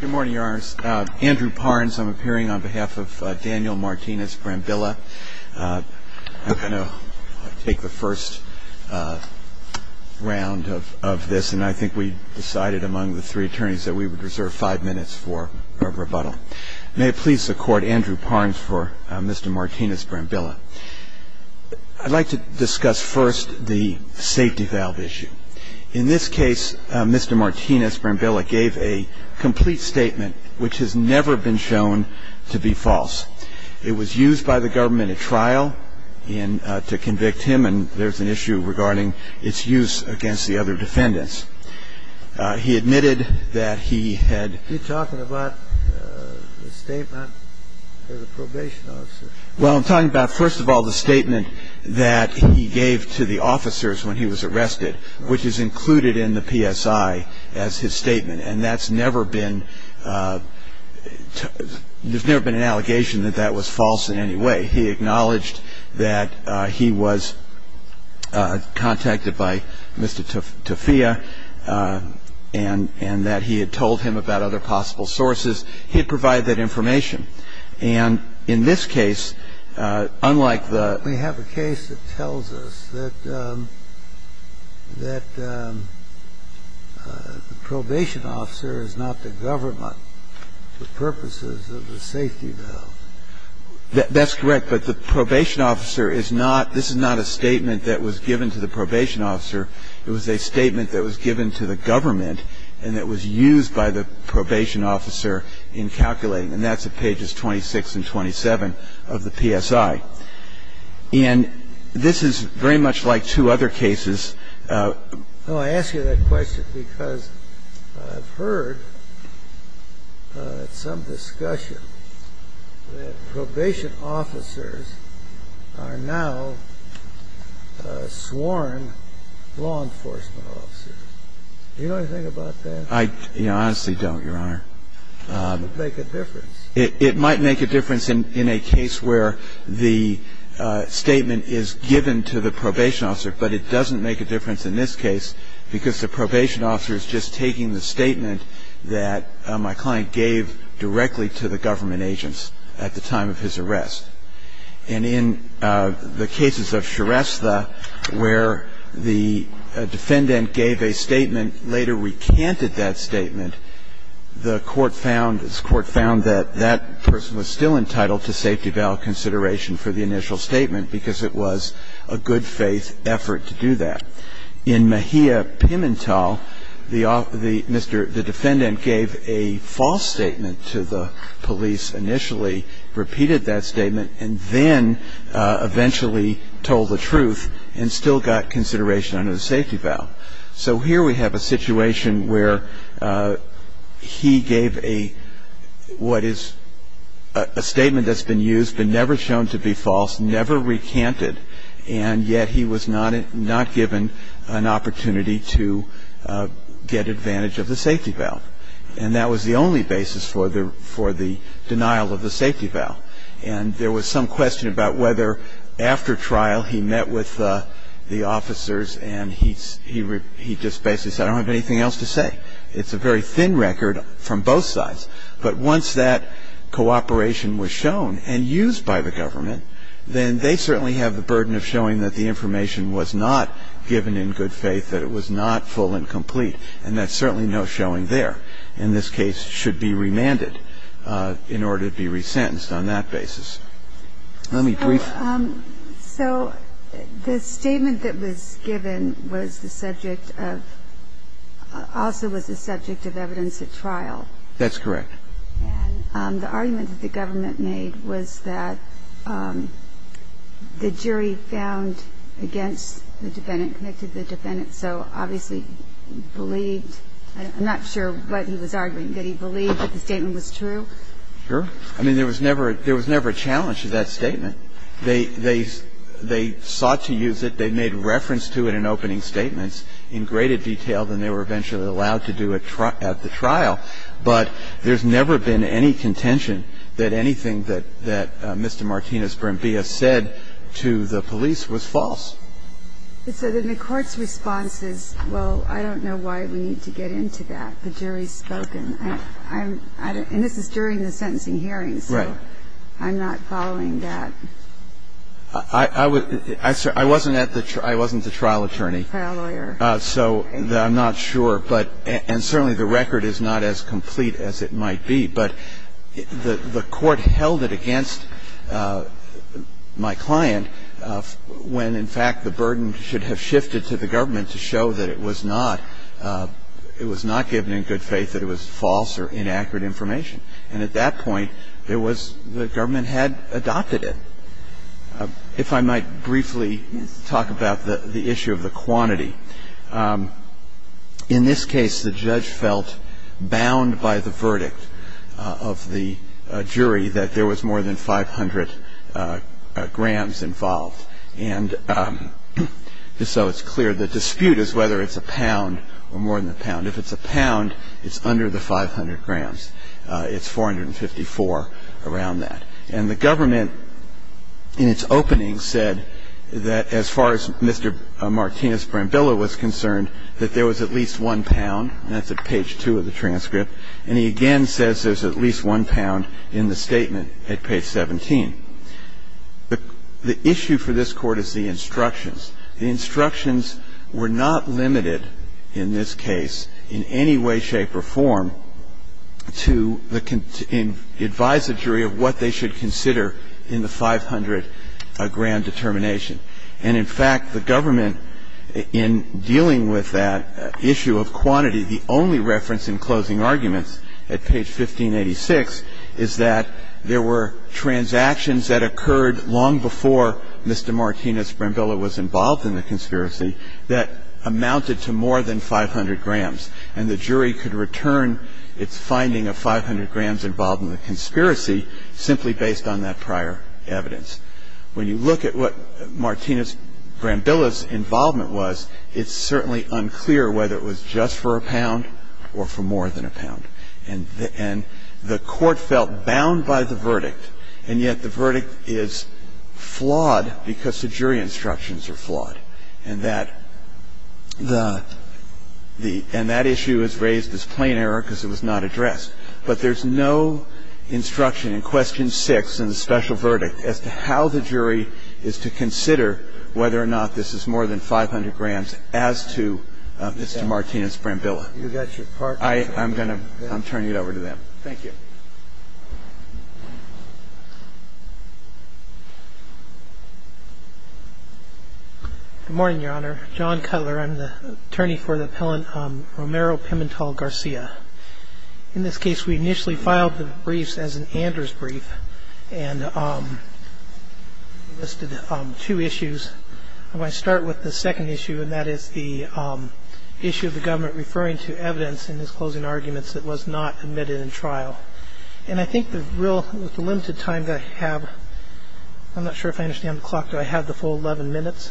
Good morning, Your Honors. Andrew Parnes, I'm appearing on behalf of Daniel Martinez-Brambilla. I'm going to take the first round of this, and I think we decided among the three attorneys that we would reserve five minutes for a rebuttal. May it please the Court, Andrew Parnes for Mr. Martinez-Brambilla. I'd like to discuss first the safety valve issue. In this case, Mr. Martinez-Brambilla gave a complete statement which has never been shown to be false. It was used by the government at trial to convict him, and there's an issue regarding its use against the other defendants. He admitted that he had- Are you talking about the statement of the probation officer? Well, I'm talking about, first of all, the statement that he gave to the officers when he was arrested, which is included in the PSI as his statement. And that's never been-there's never been an allegation that that was false in any way. He acknowledged that he was contacted by Mr. Toffia and that he had told him about other possible sources. He had provided that information. And in this case, unlike the- We have a case that tells us that the probation officer is not the government for purposes of the safety valve. That's correct. But the probation officer is not this is not a statement that was given to the probation officer. It was a statement that was given to the government and that was used by the probation officer in calculating. And that's at pages 26 and 27 of the PSI. And this is very much like two other cases. I ask you that question because I've heard at some discussion that probation officers are now sworn law enforcement officers. Do you know anything about that? I honestly don't, Your Honor. It might make a difference. It might make a difference in a case where the statement is given to the probation officer, but it doesn't make a difference in this case because the probation officer is just taking the statement that my client gave directly to the government agents at the time of his arrest. And in the cases of Shrestha where the defendant gave a statement, later recanted that statement, the court found that that person was still entitled to safety valve consideration for the initial statement because it was a good faith effort to do that. In Mejia Pimentel, the defendant gave a false statement to the police, initially repeated that statement, and then eventually told the truth and still got consideration under the safety valve. So here we have a situation where he gave a statement that's been used, but never shown to be false, never recanted, and yet he was not given an opportunity to get advantage of the safety valve. And that was the only basis for the denial of the safety valve. And there was some question about whether after trial he met with the officers and he just basically said, I don't have anything else to say. It's a very thin record from both sides. But once that cooperation was shown and used by the government, then they certainly have the burden of showing that the information was not given in good faith, that it was not full and complete, and that's certainly no showing there. or whether the defendant in this case should be remanded in order to be resentenced on that basis. Let me brief. So the statement that was given was the subject of also was the subject of evidence at trial. That's correct. And the argument that the government made was that the jury found against the defendant, connected the defendant, so obviously believed. I'm not sure what he was arguing. Did he believe that the statement was true? Sure. I mean, there was never a challenge to that statement. They sought to use it. They made reference to it in opening statements in greater detail than they were eventually allowed to do at the trial. But there's never been any contention that anything that Mr. Martinez Brambilla said to the police was false. So then the court's response is, well, I don't know why we need to get into that. The jury has spoken. And this is during the sentencing hearing, so I'm not following that. I wasn't at the trial. I wasn't the trial attorney. Trial lawyer. So I'm not sure. And certainly the record is not as complete as it might be. But the court held it against my client when, in fact, the burden should have shifted to the government to show that it was not given in good faith that it was false or inaccurate information. And at that point, it was the government had adopted it. If I might briefly talk about the issue of the quantity. In this case, the judge felt bound by the verdict of the jury that there was more than 500 grams involved. And so it's clear the dispute is whether it's a pound or more than a pound. If it's a pound, it's under the 500 grams. It's 454 around that. And the government, in its opening, said that as far as Mr. Martinez-Brambilla was concerned, that there was at least one pound. And that's at page 2 of the transcript. And he again says there's at least one pound in the statement at page 17. The issue for this Court is the instructions. The instructions were not limited in this case in any way, shape or form to advise the jury of what they should consider in the 500-gram determination. And in fact, the government, in dealing with that issue of quantity, the only reference in closing arguments at page 1586 is that there were transactions that occurred long before Mr. Martinez-Brambilla was involved in the conspiracy that amounted to more than 500 grams. And the jury could return its finding of 500 grams involved in the conspiracy simply based on that prior evidence. When you look at what Martinez-Brambilla's involvement was, it's certainly unclear whether it was just for a pound or for more than a pound. And the Court felt bound by the verdict. And yet the verdict is flawed because the jury instructions are flawed. And that the – and that issue is raised as plain error because it was not addressed. But there's no instruction in Question 6 in the special verdict as to how the jury is to consider whether or not this is more than 500 grams as to Mr. Martinez-Brambilla. I'm going to – I'm turning it over to them. Thank you. Good morning, Your Honor. John Cutler. I'm the attorney for the appellant Romero Pimentel-Garcia. In this case, we initially filed the briefs as an Anders brief and listed two issues. I'm going to start with the second issue, and that is the issue of the government referring to evidence in his closing arguments that was not admitted in trial. And I think the real – with the limited time that I have, I'm not sure if I understand the clock. Do I have the full 11 minutes?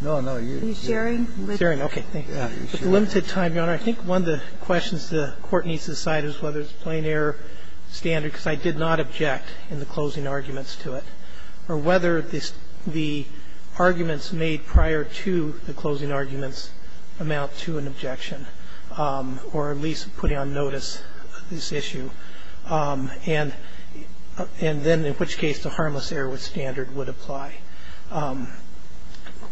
No, no. You're sharing? Okay. Thanks. With the limited time, Your Honor, I think one of the questions the Court needs to decide is whether it's plain error, standard, because I did not object in the closing arguments to it, or whether the arguments made prior to the closing arguments amount to an objection or at least putting on notice this issue, and then in which case the harmless error with standard would apply.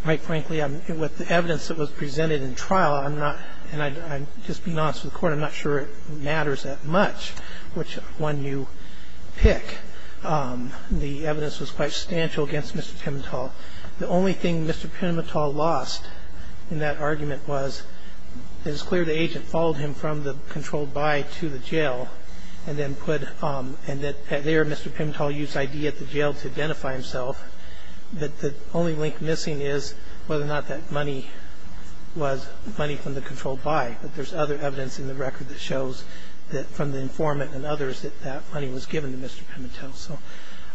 Quite frankly, with the evidence that was presented in trial, I'm not – and I'm just being honest with the Court, I'm not sure it matters that much which one you pick. The evidence was quite substantial against Mr. Pimentel. The only thing Mr. Pimentel lost in that argument was that it's clear the agent followed him from the controlled by to the jail and then put – and that there Mr. Pimentel used ID at the jail to identify himself, but the only link missing is whether or not that money was money from the controlled by, but there's other evidence in the record that shows that from the informant and others that that money was given to Mr. Pimentel. So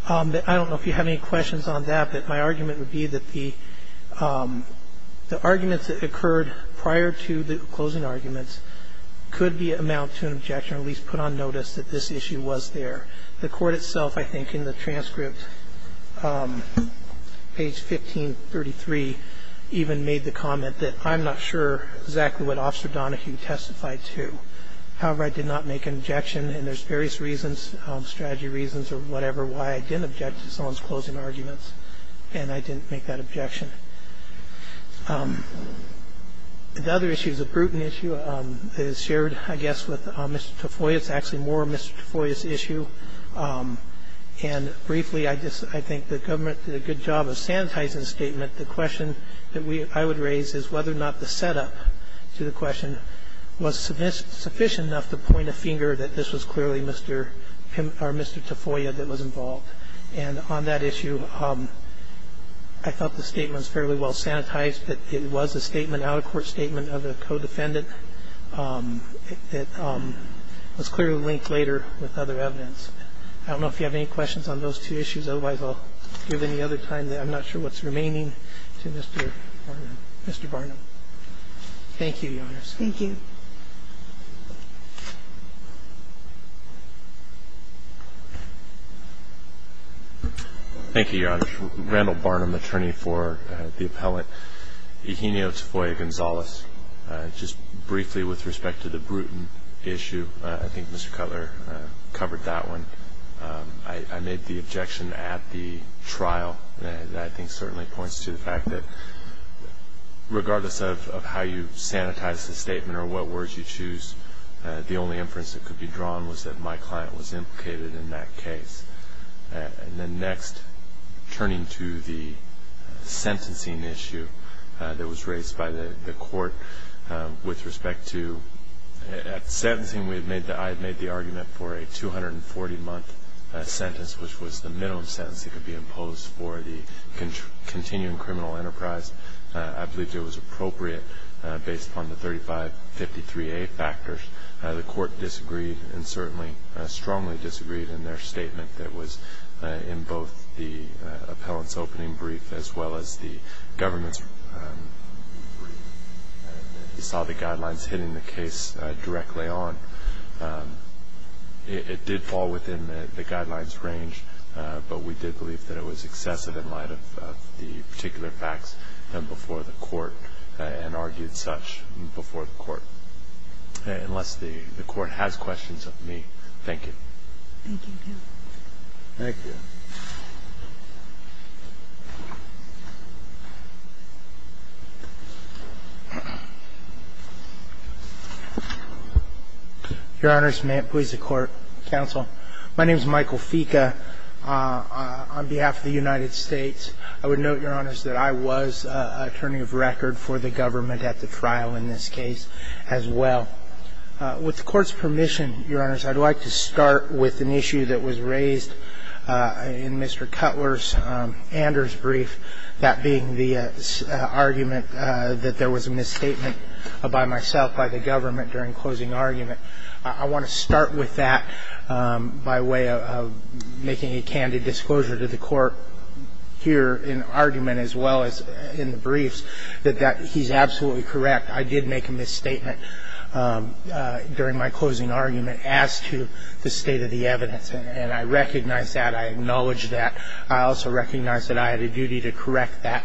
I don't know if you have any questions on that, but my argument would be that the arguments that occurred prior to the closing arguments could amount to an objection or at least put on notice that this issue was there. The Court itself, I think, in the transcript, page 1533, even made the comment that I'm not sure exactly what Officer Donahue testified to, however, I did not make an objection, and there's various reasons, strategy reasons or whatever, why I didn't object to someone's closing arguments, and I didn't make that objection. The other issue is a brutal issue. It is shared, I guess, with Mr. Tafoya. It's actually more Mr. Tafoya's issue. And briefly, I think the government did a good job of sanitizing the statement. The question that I would raise is whether or not the setup to the question was sufficient enough to point a finger that this was clearly Mr. Pimentel or Mr. Tafoya that was involved. And on that issue, I felt the statement was fairly well sanitized, that it was a statement, an out-of-court statement of a co-defendant that was clearly linked later with other evidence. I don't know if you have any questions on those two issues. Otherwise, I'll give any other time that I'm not sure what's remaining to Mr. Barnum. Thank you, Your Honors. Thank you. Thank you, Your Honors. Randall Barnum, attorney for the appellant. Eugenio Tafoya Gonzalez. Just briefly with respect to the brutal issue, I think Mr. Cutler covered that one. I made the objection at the trial that I think certainly points to the fact that, of how you sanitize the statement or what words you choose, the only inference that could be drawn was that my client was implicated in that case. And then next, turning to the sentencing issue that was raised by the court with respect to at sentencing, I had made the argument for a 240-month sentence, which was the minimum sentence that could be imposed for the continuing criminal enterprise. I believed it was appropriate based upon the 3553A factors. The court disagreed and certainly strongly disagreed in their statement that was in both the appellant's opening brief as well as the government's brief. We saw the guidelines hitting the case directly on. It did fall within the guidelines range, but we did believe that it was excessive in light of the particular facts before the court and argued such before the court. Unless the court has questions of me, thank you. Thank you. Thank you. Your Honors, may it please the Court, counsel. My name is Michael Fica. On behalf of the United States, I would note, Your Honors, that I was an attorney of record for the government at the trial in this case as well. With the Court's permission, Your Honors, I'd like to start with an issue that was raised in Mr. Cutler's Anders' brief, that being the argument that there was a misstatement by myself, by the government, during closing argument. I want to start with that by way of making a candid disclosure to the Court here in argument as well as in the briefs, that he's absolutely correct. I did make a misstatement during my closing argument as to the state of the evidence, and I recognize that. I acknowledge that. I also recognize that I had a duty to correct that.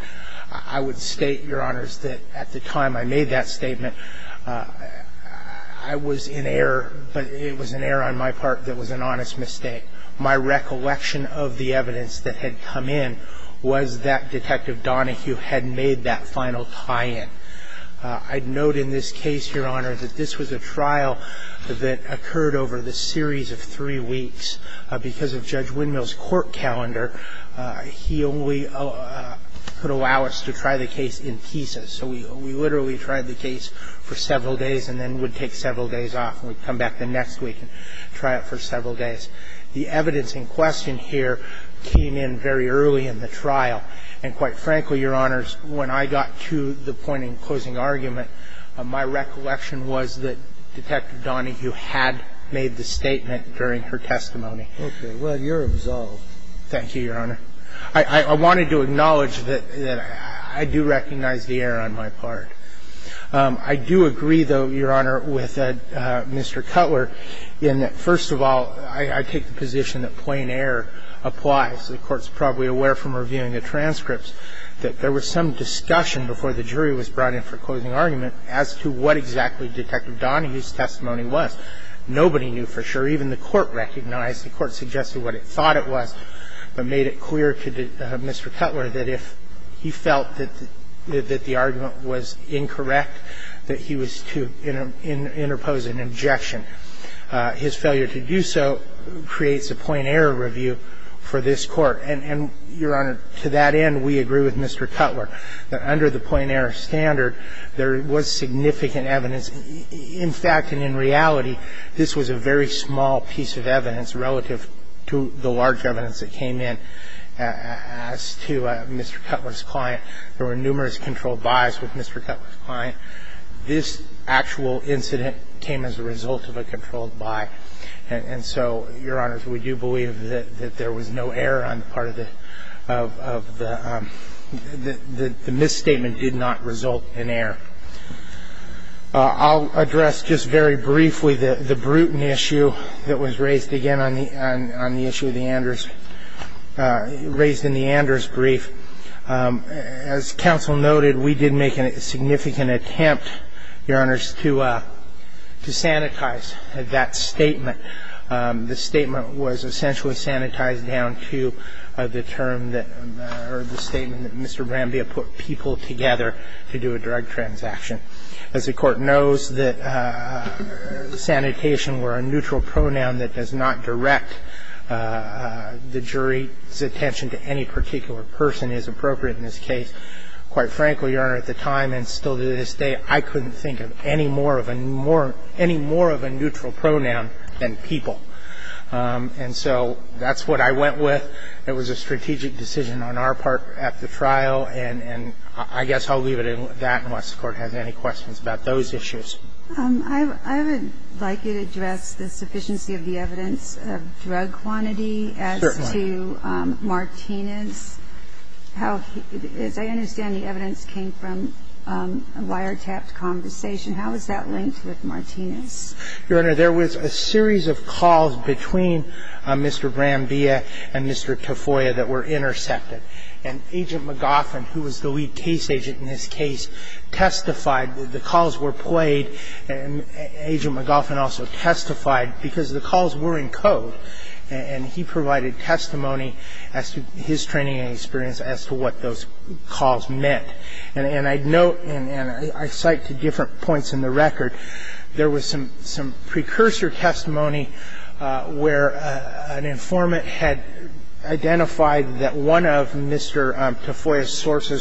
I would state, Your Honors, that at the time I made that statement, I was in error, but it was an error on my part that was an honest mistake. My recollection of the evidence that had come in was that Detective Donahue had made that final tie-in. I'd note in this case, Your Honors, that this was a trial that occurred over the series of three weeks. And the evidence in question here came in very early in the trial, and, quite frankly, Your Honors, when I got to the point in closing argument, my recollection was that Detective Donahue had made the statement during her testimony. I do agree, though, Your Honor, with Mr. Cutler in that, first of all, I take the position that plain error applies. The Court's probably aware from reviewing the transcripts that there was some discussion before the jury was brought in for closing argument as to what exactly Detective Donahue's testimony was. Even the Court recognized the error on my part. The Court suggested what it thought it was, but made it clear to Mr. Cutler that if he felt that the argument was incorrect, that he was to interpose an objection. His failure to do so creates a plain error review for this Court. And, Your Honor, to that end, we agree with Mr. Cutler that under the plain error standard, there was significant evidence. In fact, and in reality, this was a very small piece of evidence relative to the large evidence that came in as to Mr. Cutler's client. There were numerous controlled buys with Mr. Cutler's client. This actual incident came as a result of a controlled buy, and so, Your Honors, we do believe that there was no error on the part of the – the misstatement did not result in error. I'll address just very briefly the – the Bruton issue that was raised again on the – on the issue of the Anders – raised in the Anders brief. As counsel noted, we did make a significant attempt, Your Honors, to sanitize that statement. The statement was essentially sanitized down to the term that – or the statement that Mr. Brambia put people together to do a drug transaction. As the Court knows that sanitation were a neutral pronoun that does not direct the jury's attention to any particular person is appropriate in this case. Quite frankly, Your Honor, at the time and still to this day, I couldn't think of any more of a – any more of a neutral pronoun than people. And so that's what I went with. It was a strategic decision on our part at the trial, and – and I guess I'll leave it at that unless the Court has any questions about those issues. I would like you to address the sufficiency of the evidence of drug quantity. Certainly. As to Martinez. How – as I understand, the evidence came from a wiretapped conversation. How is that linked with Martinez? Your Honor, there was a series of calls between Mr. Brambia and Mr. Tafoya that were intercepted. And Agent McGoffin, who was the lead case agent in this case, testified that the calls were played. And Agent McGoffin also testified because the calls were in code, and he provided testimony as to his training and experience as to what those calls meant. And I note and I cite to different points in the record, there was some – some sources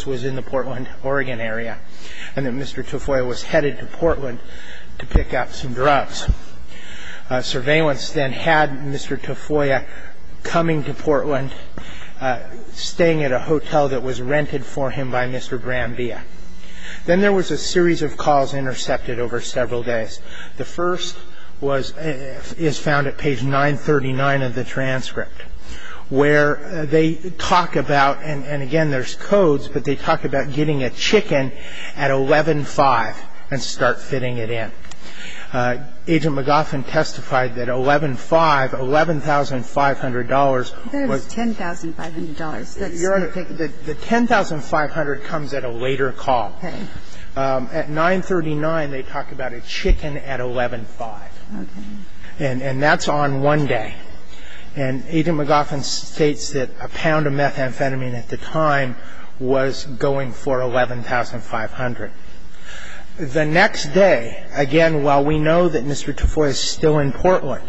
was in the Portland, Oregon area, and that Mr. Tafoya was headed to Portland to pick up some drugs. Surveillance then had Mr. Tafoya coming to Portland, staying at a hotel that was rented for him by Mr. Brambia. Then there was a series of calls intercepted over several days. The first was – is found at page 939 of the transcript, where they talk about – and again, there's codes, but they talk about getting a chicken at 11-5 and start fitting it in. Agent McGoffin testified that 11-5, $11,500 was – There's $10,500. That's – Your Honor, the $10,500 comes at a later call. Okay. At 939, they talk about a chicken at 11-5. Okay. And that's on one day. And Agent McGoffin states that a pound of methamphetamine at the time was going for $11,500. The next day, again, while we know that Mr. Tafoya is still in Portland,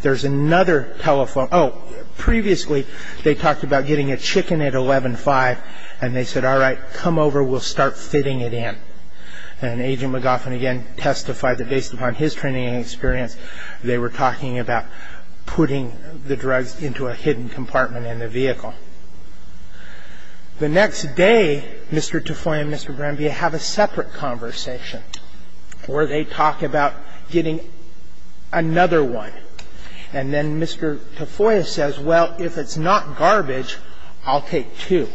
there's another telephone – oh, previously, they talked about getting a chicken at 11-5, and they said, all right, come over, we'll start fitting it in. And Agent McGoffin again testified that based upon his training and experience, they were talking about putting the drugs into a hidden compartment in the vehicle. The next day, Mr. Tafoya and Mr. Brambia have a separate conversation where they talk about getting another one. And then Mr. Tafoya says, well, if it's not garbage, I'll take two.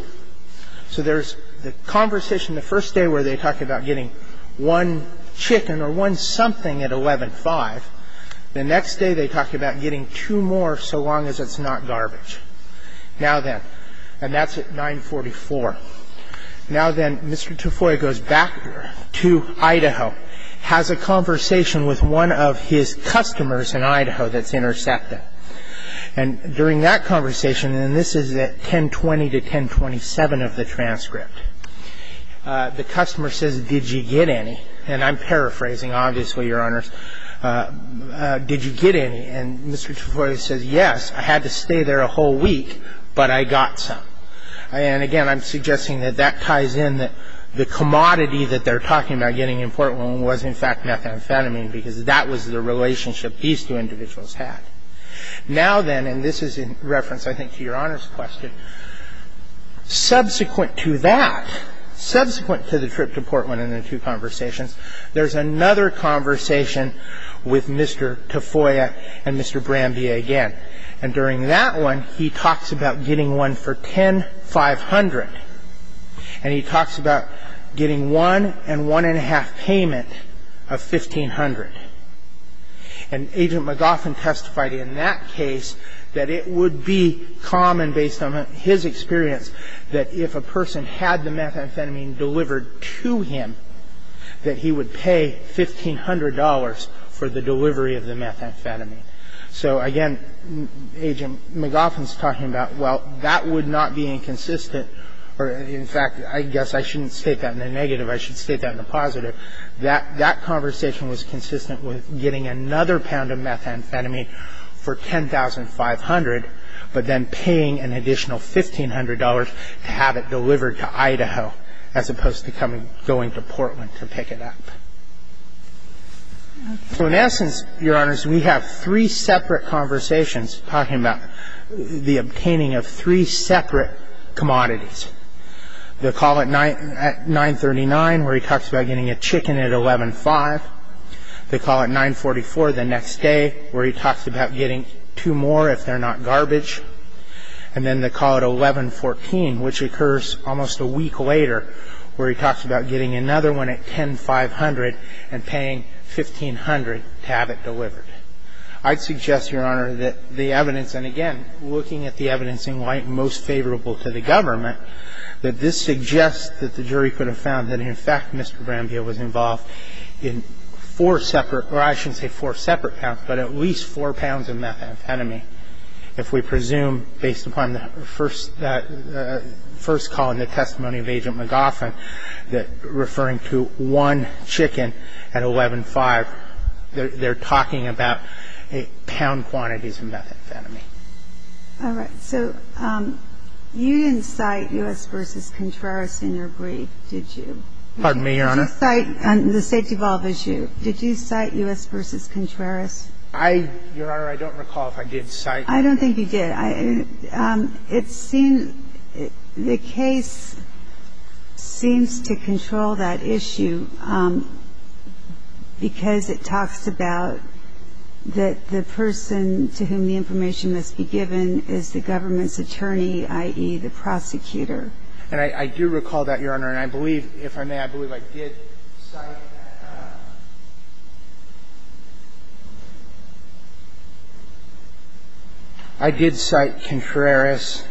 So there's the conversation the first day where they talk about getting one chicken or one something at 11-5. The next day, they talk about getting two more so long as it's not garbage. Now then, and that's at 944. Now then, Mr. Tafoya goes back to Idaho, has a conversation with one of his customers in Idaho that's intercepted. And during that conversation, and this is at 1020 to 1027 of the transcript, the customer says, did you get any? And I'm paraphrasing, obviously, Your Honors. Did you get any? And Mr. Tafoya says, yes, I had to stay there a whole week, but I got some. And again, I'm suggesting that that ties in that the commodity that they're talking about getting in Portland was, in fact, methamphetamine because that was the relationship these two individuals had. Now then, and this is in reference, I think, to Your Honors' question, subsequent to that, subsequent to the trip to Portland and the two conversations, there's another conversation with Mr. Tafoya and Mr. Brambia again. And during that one, he talks about getting one for 10,500, and he talks about getting one and one-and-a-half payment of 1,500. And Agent McLaughlin testified in that case that it would be common, based on his experience, that if a person had the methamphetamine delivered to him, that he would pay $1,500 for the delivery of the methamphetamine. So, again, Agent McLaughlin's talking about, well, that would not be inconsistent. In fact, I guess I shouldn't state that in a negative. I should state that in a positive. That conversation was consistent with getting another pound of methamphetamine for 10,500, but then paying an additional $1,500 to have it delivered to Idaho as opposed to going to Portland to pick it up. So, in essence, Your Honors, we have three separate conversations talking about the obtaining of three separate commodities. They call it 939, where he talks about getting a chicken at 11-5. They call it 944 the next day, where he talks about getting two more if they're not garbage. And then they call it 1114, which occurs almost a week later, where he talks about getting another one at 10,500 and paying 1,500 to have it delivered. I'd suggest, Your Honor, that the evidence – and, again, looking at the evidence in white, most favorable to the government – that this suggests that the jury could have found that, in fact, Mr. Brambilla was involved in four separate – or I shouldn't say four separate counts, but at least four pounds of methamphetamine. If we presume, based upon the first call and the testimony of Agent McGoffin, that referring to one chicken at 11-5, they're talking about pound quantities of methamphetamine. All right. So you didn't cite U.S. v. Contreras in your brief, did you? Pardon me, Your Honor? Did you cite – the safety valve issue. Did you cite U.S. v. Contreras? I – Your Honor, I don't recall if I did cite. I don't think you did. It seems – the case seems to control that issue because it talks about the person to whom the information must be given is the government's attorney, i.e., the prosecutor. And I do recall that, Your Honor. And I believe – if I may, I believe I did cite – I did cite Contreras.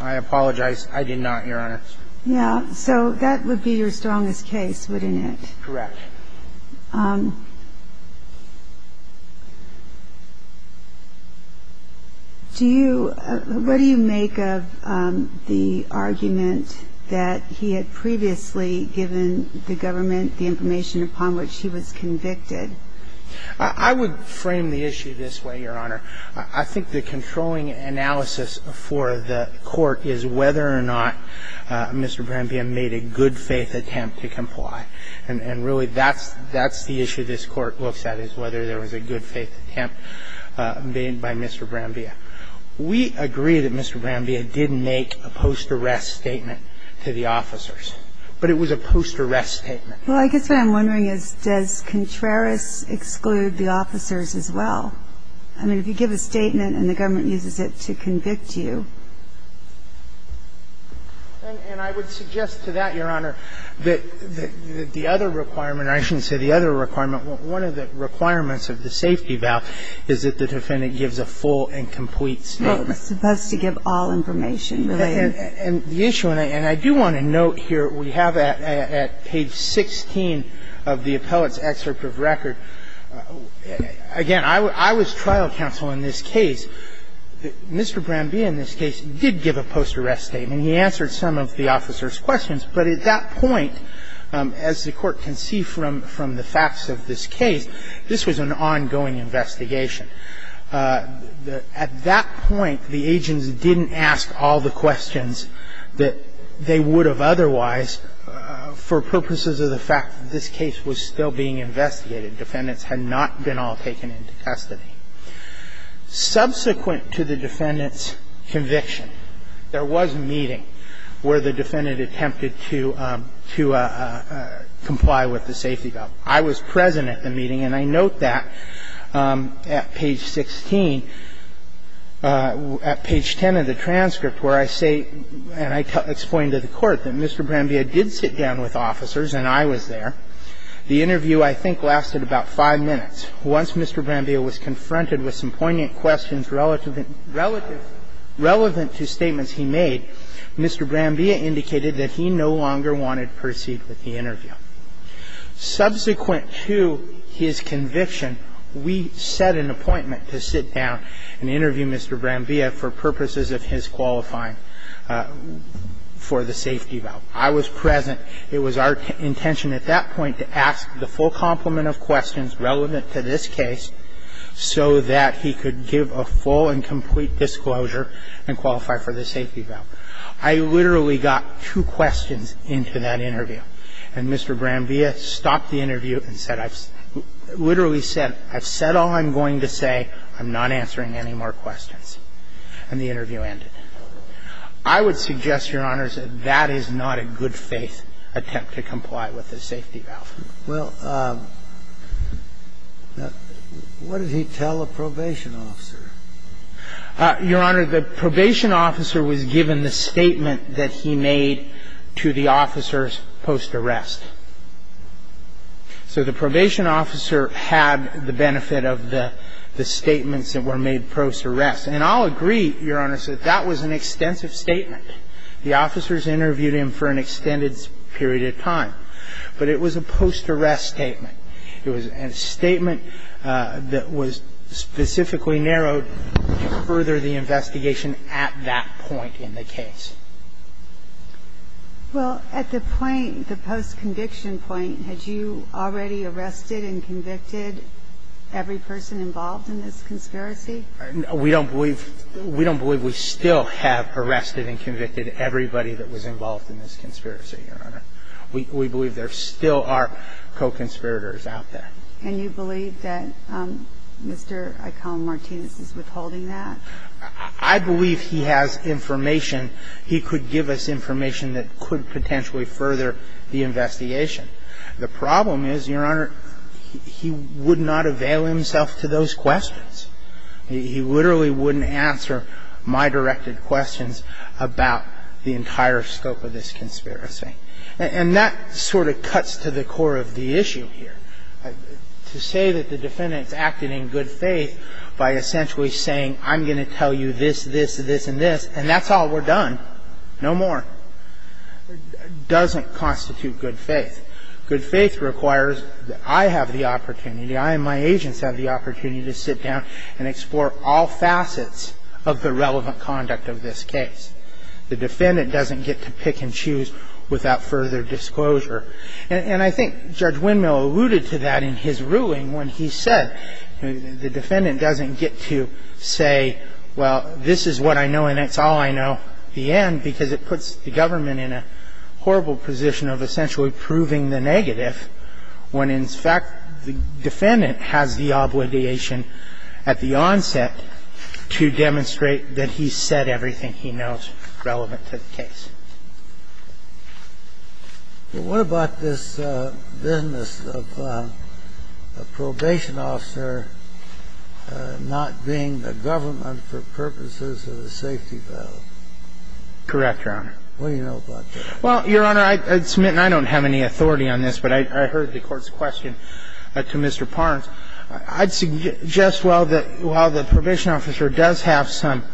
I apologize. I did not, Your Honor. I believe you did cite U.S. v. Contreras. Yeah. So that would be your strongest case, wouldn't it? Correct. Do you – what do you make of the argument that he had previously given the government the information upon which he was convicted? I would frame the issue this way, Your Honor. I think the controlling analysis for the court is whether or not Mr. Brambilla made a good-faith attempt to comply. And really that's the issue this court looks at is whether there was a good-faith attempt made by Mr. Brambilla. We agree that Mr. Brambilla did make a post-arrest statement to the officers, but it was a post-arrest statement. Well, I guess what I'm wondering is, does Contreras exclude the officers as well? I mean, if you give a statement and the government uses it to convict you. And I would suggest to that, Your Honor, that the other requirement – I shouldn't say the other requirement. One of the requirements of the safety valve is that the defendant gives a full and complete statement. Well, it's supposed to give all information related. And the issue – and I do want to note here, we have at page 16 of the appellate's excerpt of record – again, I was trial counsel in this case. Mr. Brambilla in this case did give a post-arrest statement. He answered some of the officers' questions. But at that point, as the Court can see from the facts of this case, this was an ongoing investigation. At that point, the agents didn't ask all the questions that they would have otherwise for purposes of the fact that this case was still being investigated. Defendants had not been all taken into custody. Subsequent to the defendant's conviction, there was a meeting where the defendant attempted to comply with the safety valve. I was present at the meeting, and I note that at page 16 – at page 10 of the transcript, where I say – and I explain to the Court that Mr. Brambilla did sit down with officers and I was there. The interview, I think, lasted about five minutes. Once Mr. Brambilla was confronted with some poignant questions relative – relative – relevant to statements he made, Mr. Brambilla indicated that he no longer wanted to proceed with the interview. Subsequent to his conviction, we set an appointment to sit down and interview Mr. Brambilla for purposes of his qualifying for the safety valve. I was present. It was our intention at that point to ask the full complement of questions relevant to this case so that he could give a full and complete disclosure and qualify for the safety valve. I literally got two questions into that interview. And Mr. Brambilla stopped the interview and said – literally said, I've said all I'm going to say. I'm not answering any more questions. And the interview ended. I would suggest, Your Honors, that that is not a good-faith attempt to comply with the safety valve. Well, what did he tell a probation officer? Your Honor, the probation officer was given the statement that he made to the officers post-arrest. So the probation officer had the benefit of the statements that were made post-arrest. And I'll agree, Your Honor, that that was an extensive statement. The officers interviewed him for an extended period of time. But it was a post-arrest statement. It was a statement that was specifically narrowed to further the investigation at that point in the case. Well, at the point, the post-conviction point, had you already arrested and convicted every person involved in this conspiracy? We don't believe – we don't believe we still have arrested and convicted everybody that was involved in this conspiracy, Your Honor. We believe there still are co-conspirators out there. And you believe that Mr. Aikon Martinez is withholding that? I believe he has information. He could give us information that could potentially further the investigation. The problem is, Your Honor, he would not avail himself to those questions. He literally wouldn't answer my directed questions about the entire scope of this conspiracy. And that sort of cuts to the core of the issue here. To say that the defendant has acted in good faith by essentially saying, I'm going to tell you this, this, this, and this, and that's all, we're done, no more, doesn't constitute good faith. Good faith requires that I have the opportunity, I and my agents have the opportunity to sit down and explore all facets of the relevant conduct of this case. The defendant doesn't get to pick and choose without further disclosure. And I think Judge Windmill alluded to that in his ruling when he said the defendant doesn't get to say, well, this is what I know and it's all I know, the end, because it puts the government in a horrible position of essentially proving the negative when, in fact, the defendant has the obligation at the onset to demonstrate that he said everything he knows relevant to the case. But what about this business of a probation officer not being the government for purposes of the safety valve? Correct, Your Honor. What do you know about that? Well, Your Honor, I'd submit, and I don't have any authority on this, but I heard the Court's question to Mr. Parnes. I'd suggest, while the probation officer does have some,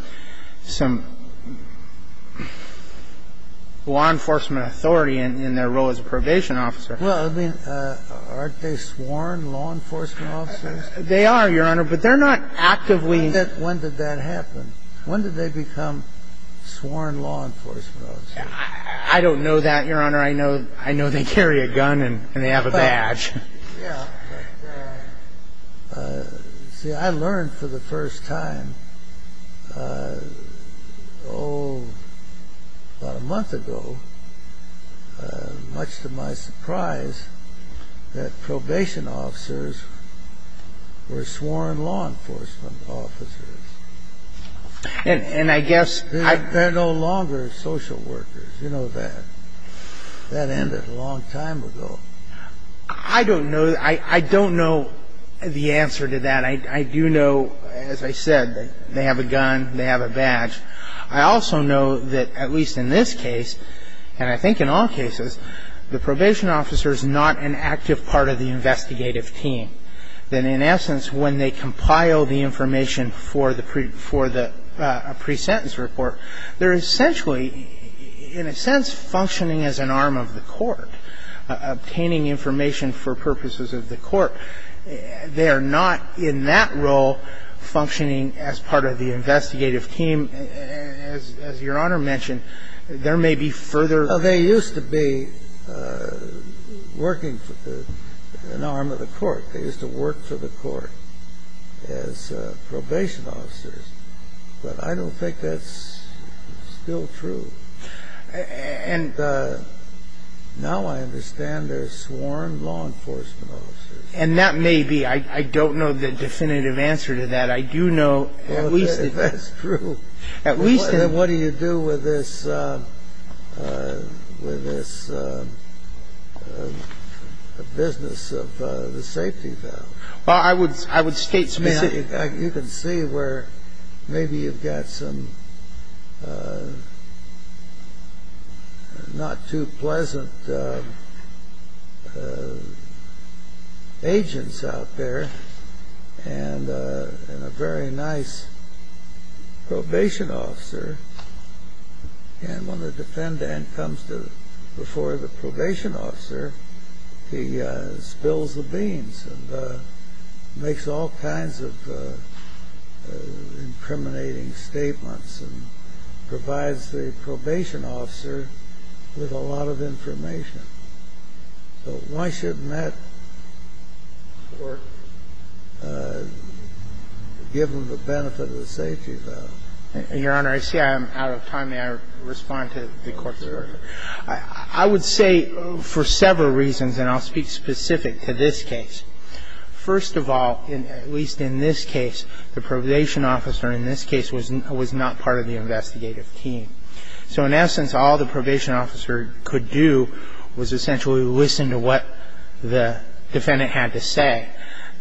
some, some authority over the law enforcement authority in their role as a probation officer. Well, I mean, aren't they sworn law enforcement officers? They are, Your Honor, but they're not actively. When did that happen? When did they become sworn law enforcement officers? I don't know that, Your Honor. I know they carry a gun and they have a badge. Yeah. But, see, I learned for the first time, oh, about a month ago, much to my surprise, that probation officers were sworn law enforcement officers. And I guess I ---- They're no longer social workers. You know that. That ended a long time ago. I don't know. I don't know the answer to that. I do know, as I said, that they have a gun, they have a badge. I also know that, at least in this case, and I think in all cases, the probation officer is not an active part of the investigative team. That, in essence, when they compile the information for the presentence report, they're essentially, in a sense, functioning as an arm of the Court, obtaining information for purposes of the Court. They are not, in that role, functioning as part of the investigative team. As Your Honor mentioned, there may be further ---- Well, they used to be working an arm of the Court. They used to work for the Court as probation officers. But I don't think that's still true. And now I understand they're sworn law enforcement officers. And that may be. I don't know the definitive answer to that. I do know, at least ---- Well, that's true. At least in ---- What do you do with this business of the safety valve? Well, I would state specifically ---- not too pleasant agents out there and a very nice probation officer. And when the defendant comes before the probation officer, he spills the beans and makes all kinds of incriminating statements and provides the probation officer with a lot of information. So why shouldn't that give them the benefit of the safety valve? Your Honor, I see I'm out of time. May I respond to the Court's question? Sure. I would say for several reasons, and I'll speak specific to this case. First of all, at least in this case, the probation officer in this case was not part of the investigative team. So in essence, all the probation officer could do was essentially listen to what the defendant had to say.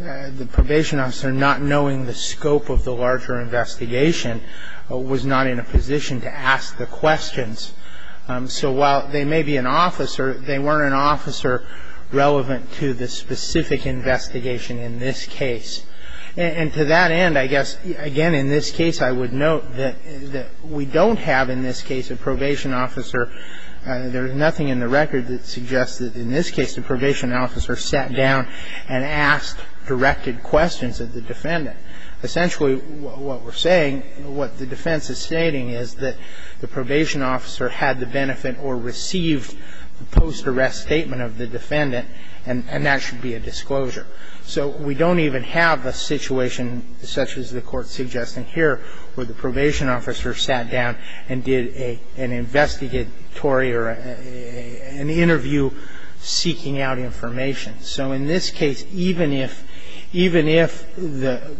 The probation officer, not knowing the scope of the larger investigation, was not in a position to ask the questions. So while they may be an officer, they weren't an officer relevant to the specific investigation in this case. And to that end, I guess, again, in this case, I would note that we don't have in this case a probation officer. There is nothing in the record that suggests that in this case the probation officer sat down Essentially, what we're saying, what the defense is stating, is that the probation officer had the benefit or received the post-arrest statement of the defendant, and that should be a disclosure. So we don't even have a situation such as the Court's suggesting here where the probation officer sat down and did an investigatory or an interview seeking out information. So in this case, even if the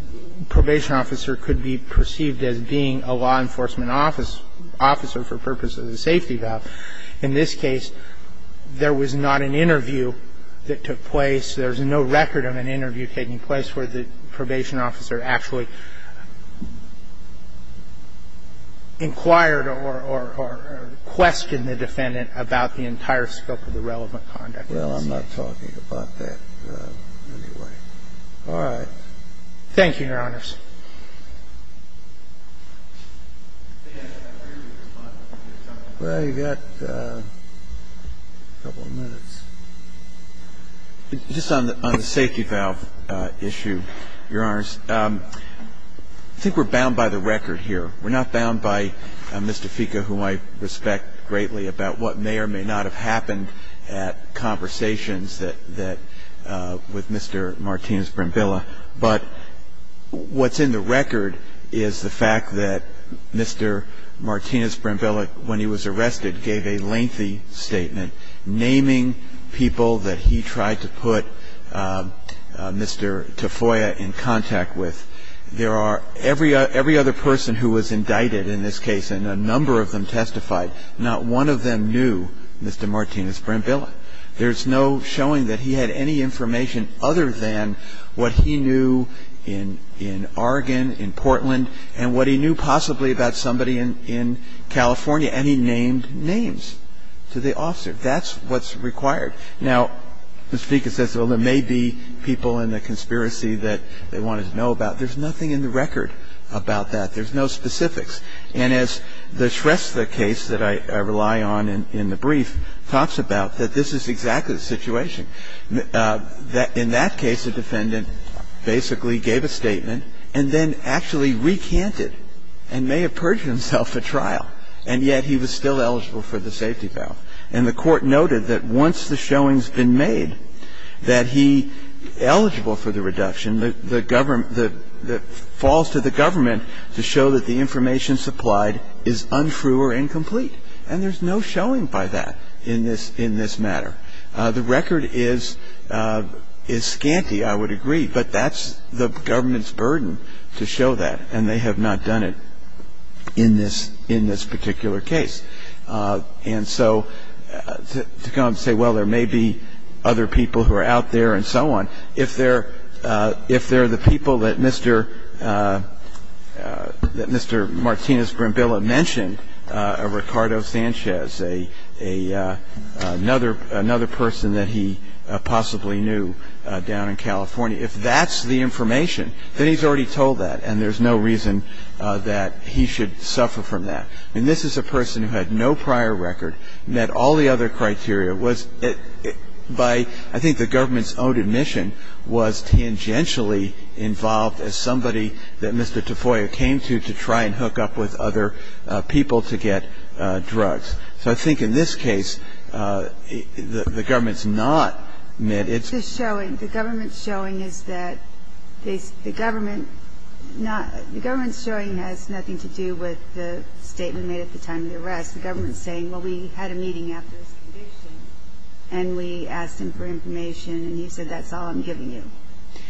probation officer could be perceived as being a law enforcement officer for purposes of the safety valve, in this case, there was not an interview that took place. There's no record of an interview taking place where the probation officer actually inquired or questioned the defendant about the entire scope of the relevant conduct. Well, I'm not talking about that anyway. All right. Thank you, Your Honors. Well, you've got a couple of minutes. Just on the safety valve issue, Your Honors, I think we're bound by the record here. We're not bound by Mr. Fica, whom I respect greatly, about what may or may not have happened at conversations that Mr. Martinez-Brembilla, but what's in the record is the fact that Mr. Martinez-Brembilla, when he was arrested, gave a lengthy statement naming people that he tried to put Mr. Tafoya in contact with. There are every other person who was indicted in this case, and a number of them testified, not one of them knew Mr. Martinez-Brembilla. There's no showing that he had any information other than what he knew in Oregon, in Portland, and what he knew possibly about somebody in California, and he named names to the officer. That's what's required. Now, Mr. Fica says, well, there may be people in the conspiracy that they wanted to know about. There's nothing in the record about that. There's no specifics. And as the Shrestha case that I rely on in the brief talks about, that this is exactly the situation. In that case, the defendant basically gave a statement and then actually recanted and may have purged himself at trial, and yet he was still eligible for the safety valve. And the court noted that once the showing's been made that he eligible for the reduction, that falls to the government to show that the information supplied is untrue or incomplete. And there's no showing by that in this matter. The record is scanty, I would agree, but that's the government's burden to show that, and they have not done it in this particular case. And so to come and say, well, there may be other people who are out there and so on, if they're the people that Mr. Martinez Brambilla mentioned, Ricardo Sanchez, another person that he possibly knew down in California, if that's the information, then he's already told that, and there's no reason that he should suffer from that. I mean, this is a person who had no prior record, met all the other criteria, was by, I think the government's own admission, was tangentially involved as somebody that Mr. Tafoya came to to try and hook up with other people to get drugs. So I think in this case, the government's not met. It's just showing. The government's showing is that the government not the government's showing has nothing to do with the statement made at the time of the arrest. The government's saying, well, we had a meeting after his conviction, and we asked him for information, and he said, that's all I'm giving you.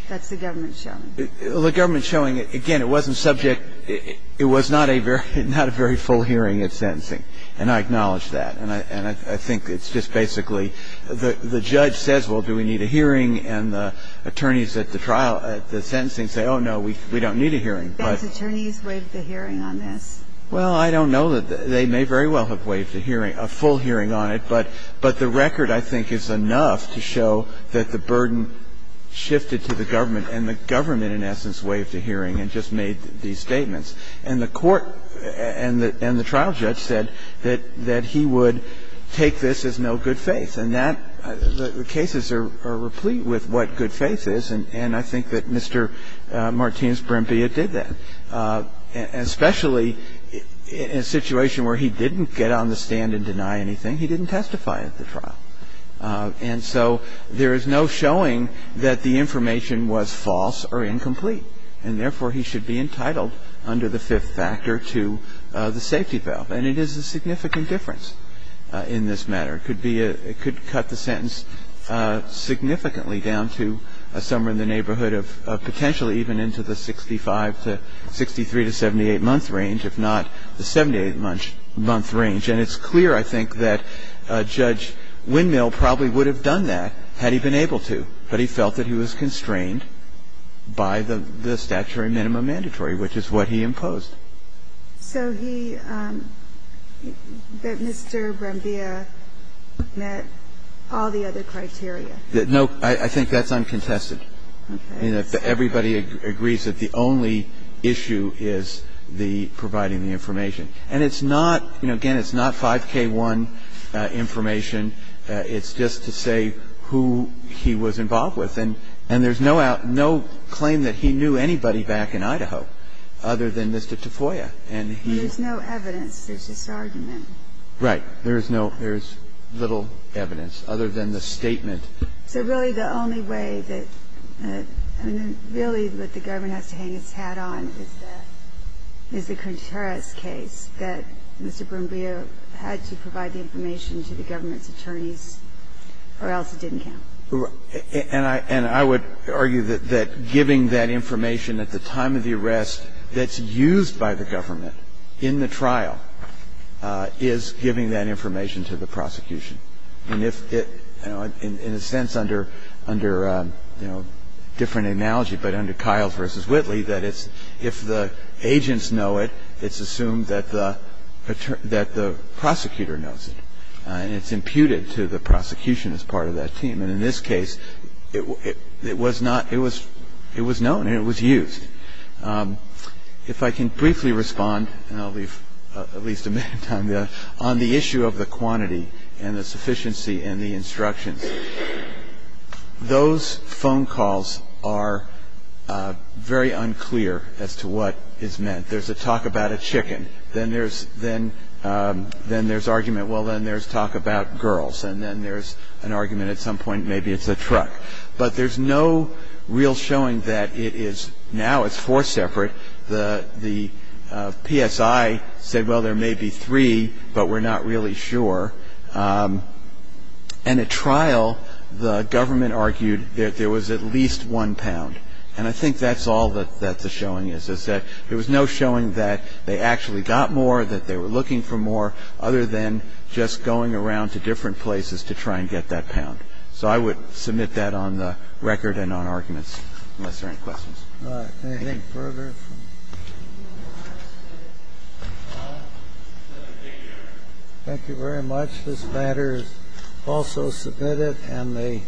That's the government's showing. The government's showing, again, it wasn't subject, it was not a very full hearing at sentencing, and I acknowledge that. And I think it's just basically the judge says, well, do we need a hearing? And the attorneys at the trial, at the sentencing say, oh, no, we don't need a hearing. They couldn't have given the Supreme Court that kind of interpretation of the sentence. So they have expectations, but they have not known. Now, I don't know how Japan's attorneys waved the hearing on this. What do you think Japan's attorneys waved the hearing on this? Well, I don't know Jennifer. They may very well have waived a hearing, a full hearing on it. But the record, I think, is enough to show that the burden shifted to the government and the government, in essence, waived the hearing and just made these statements. And the court and the trial judge said that he would take this as no good faith. And that the cases are replete with what good faith is, and I think that Mr. Martinez-Perempia did that. And especially in a situation where he didn't get on the stand and deny anything, he didn't testify at the trial. And so there is no showing that the information was false or incomplete. And therefore, he should be entitled under the fifth factor to the safety valve. And it is a significant difference in this matter. It could be a – it could cut the sentence significantly down to somewhere in the neighborhood of potentially even into the 65 to – 63 to 78-month range, if not the 78-month range. And it's clear, I think, that Judge Windmill probably would have done that had he been able to. But he felt that he was constrained by the statutory minimum mandatory, which is what he imposed. So he – that Mr. Perempia met all the other criteria? No. I think that's uncontested. Okay. Everybody agrees that the only issue is the providing the information. And it's not – you know, again, it's not 5K1 information. It's just to say who he was involved with. And there's no claim that he knew anybody back in Idaho other than Mr. Tafoya. And he – There's no evidence. There's just argument. Right. There's no – there's little evidence other than the statement. So really the only way that – I mean, really what the government has to hang its hat on is the Contreras case, that Mr. Perempia had to provide the information to the government's attorneys, or else it didn't count. And I would argue that giving that information at the time of the arrest that's used by the government in the trial is giving that information to the prosecution. And if it – you know, in a sense under, you know, different analogy, but under Kiles v. Whitley, that it's – if the agents know it, it's assumed that the prosecutor knows it. And it's imputed to the prosecution as part of that team. And in this case, it was not – it was known and it was used. If I can briefly respond, and I'll leave at least a minute of time there, on the issue of the quantity and the sufficiency and the instructions. Those phone calls are very unclear as to what is meant. There's a talk about a chicken. Then there's argument, well, then there's talk about girls. And then there's an argument at some point maybe it's a truck. But there's no real showing that it is – now it's four separate. The PSI said, well, there may be three, but we're not really sure. And at trial, the government argued that there was at least one pound. And I think that's all that the showing is, is that there was no showing that they actually got more, that they were looking for more, other than just going around to different places to try and get that pound. So I would submit that on the record and on arguments, unless there are any questions. Anything further? Thank you very much. This matter is also submitted and the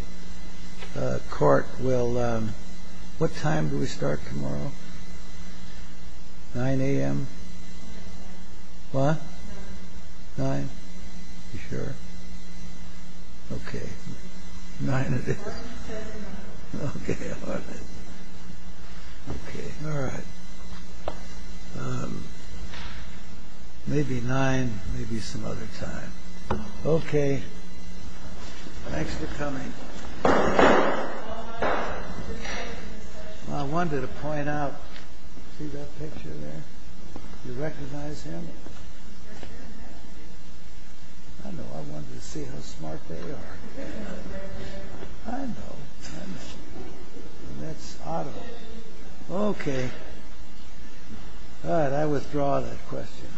court will – what time do we start tomorrow? 9 a.m.? What? 9? You sure? Okay. 9 it is. Okay. Okay. All right. Maybe 9, maybe some other time. Okay. Thanks for coming. I wanted to point out – see that picture there? You recognize him? I know. I wanted to see how smart they are. I know. That's Otto. Okay. All right. I withdraw that question.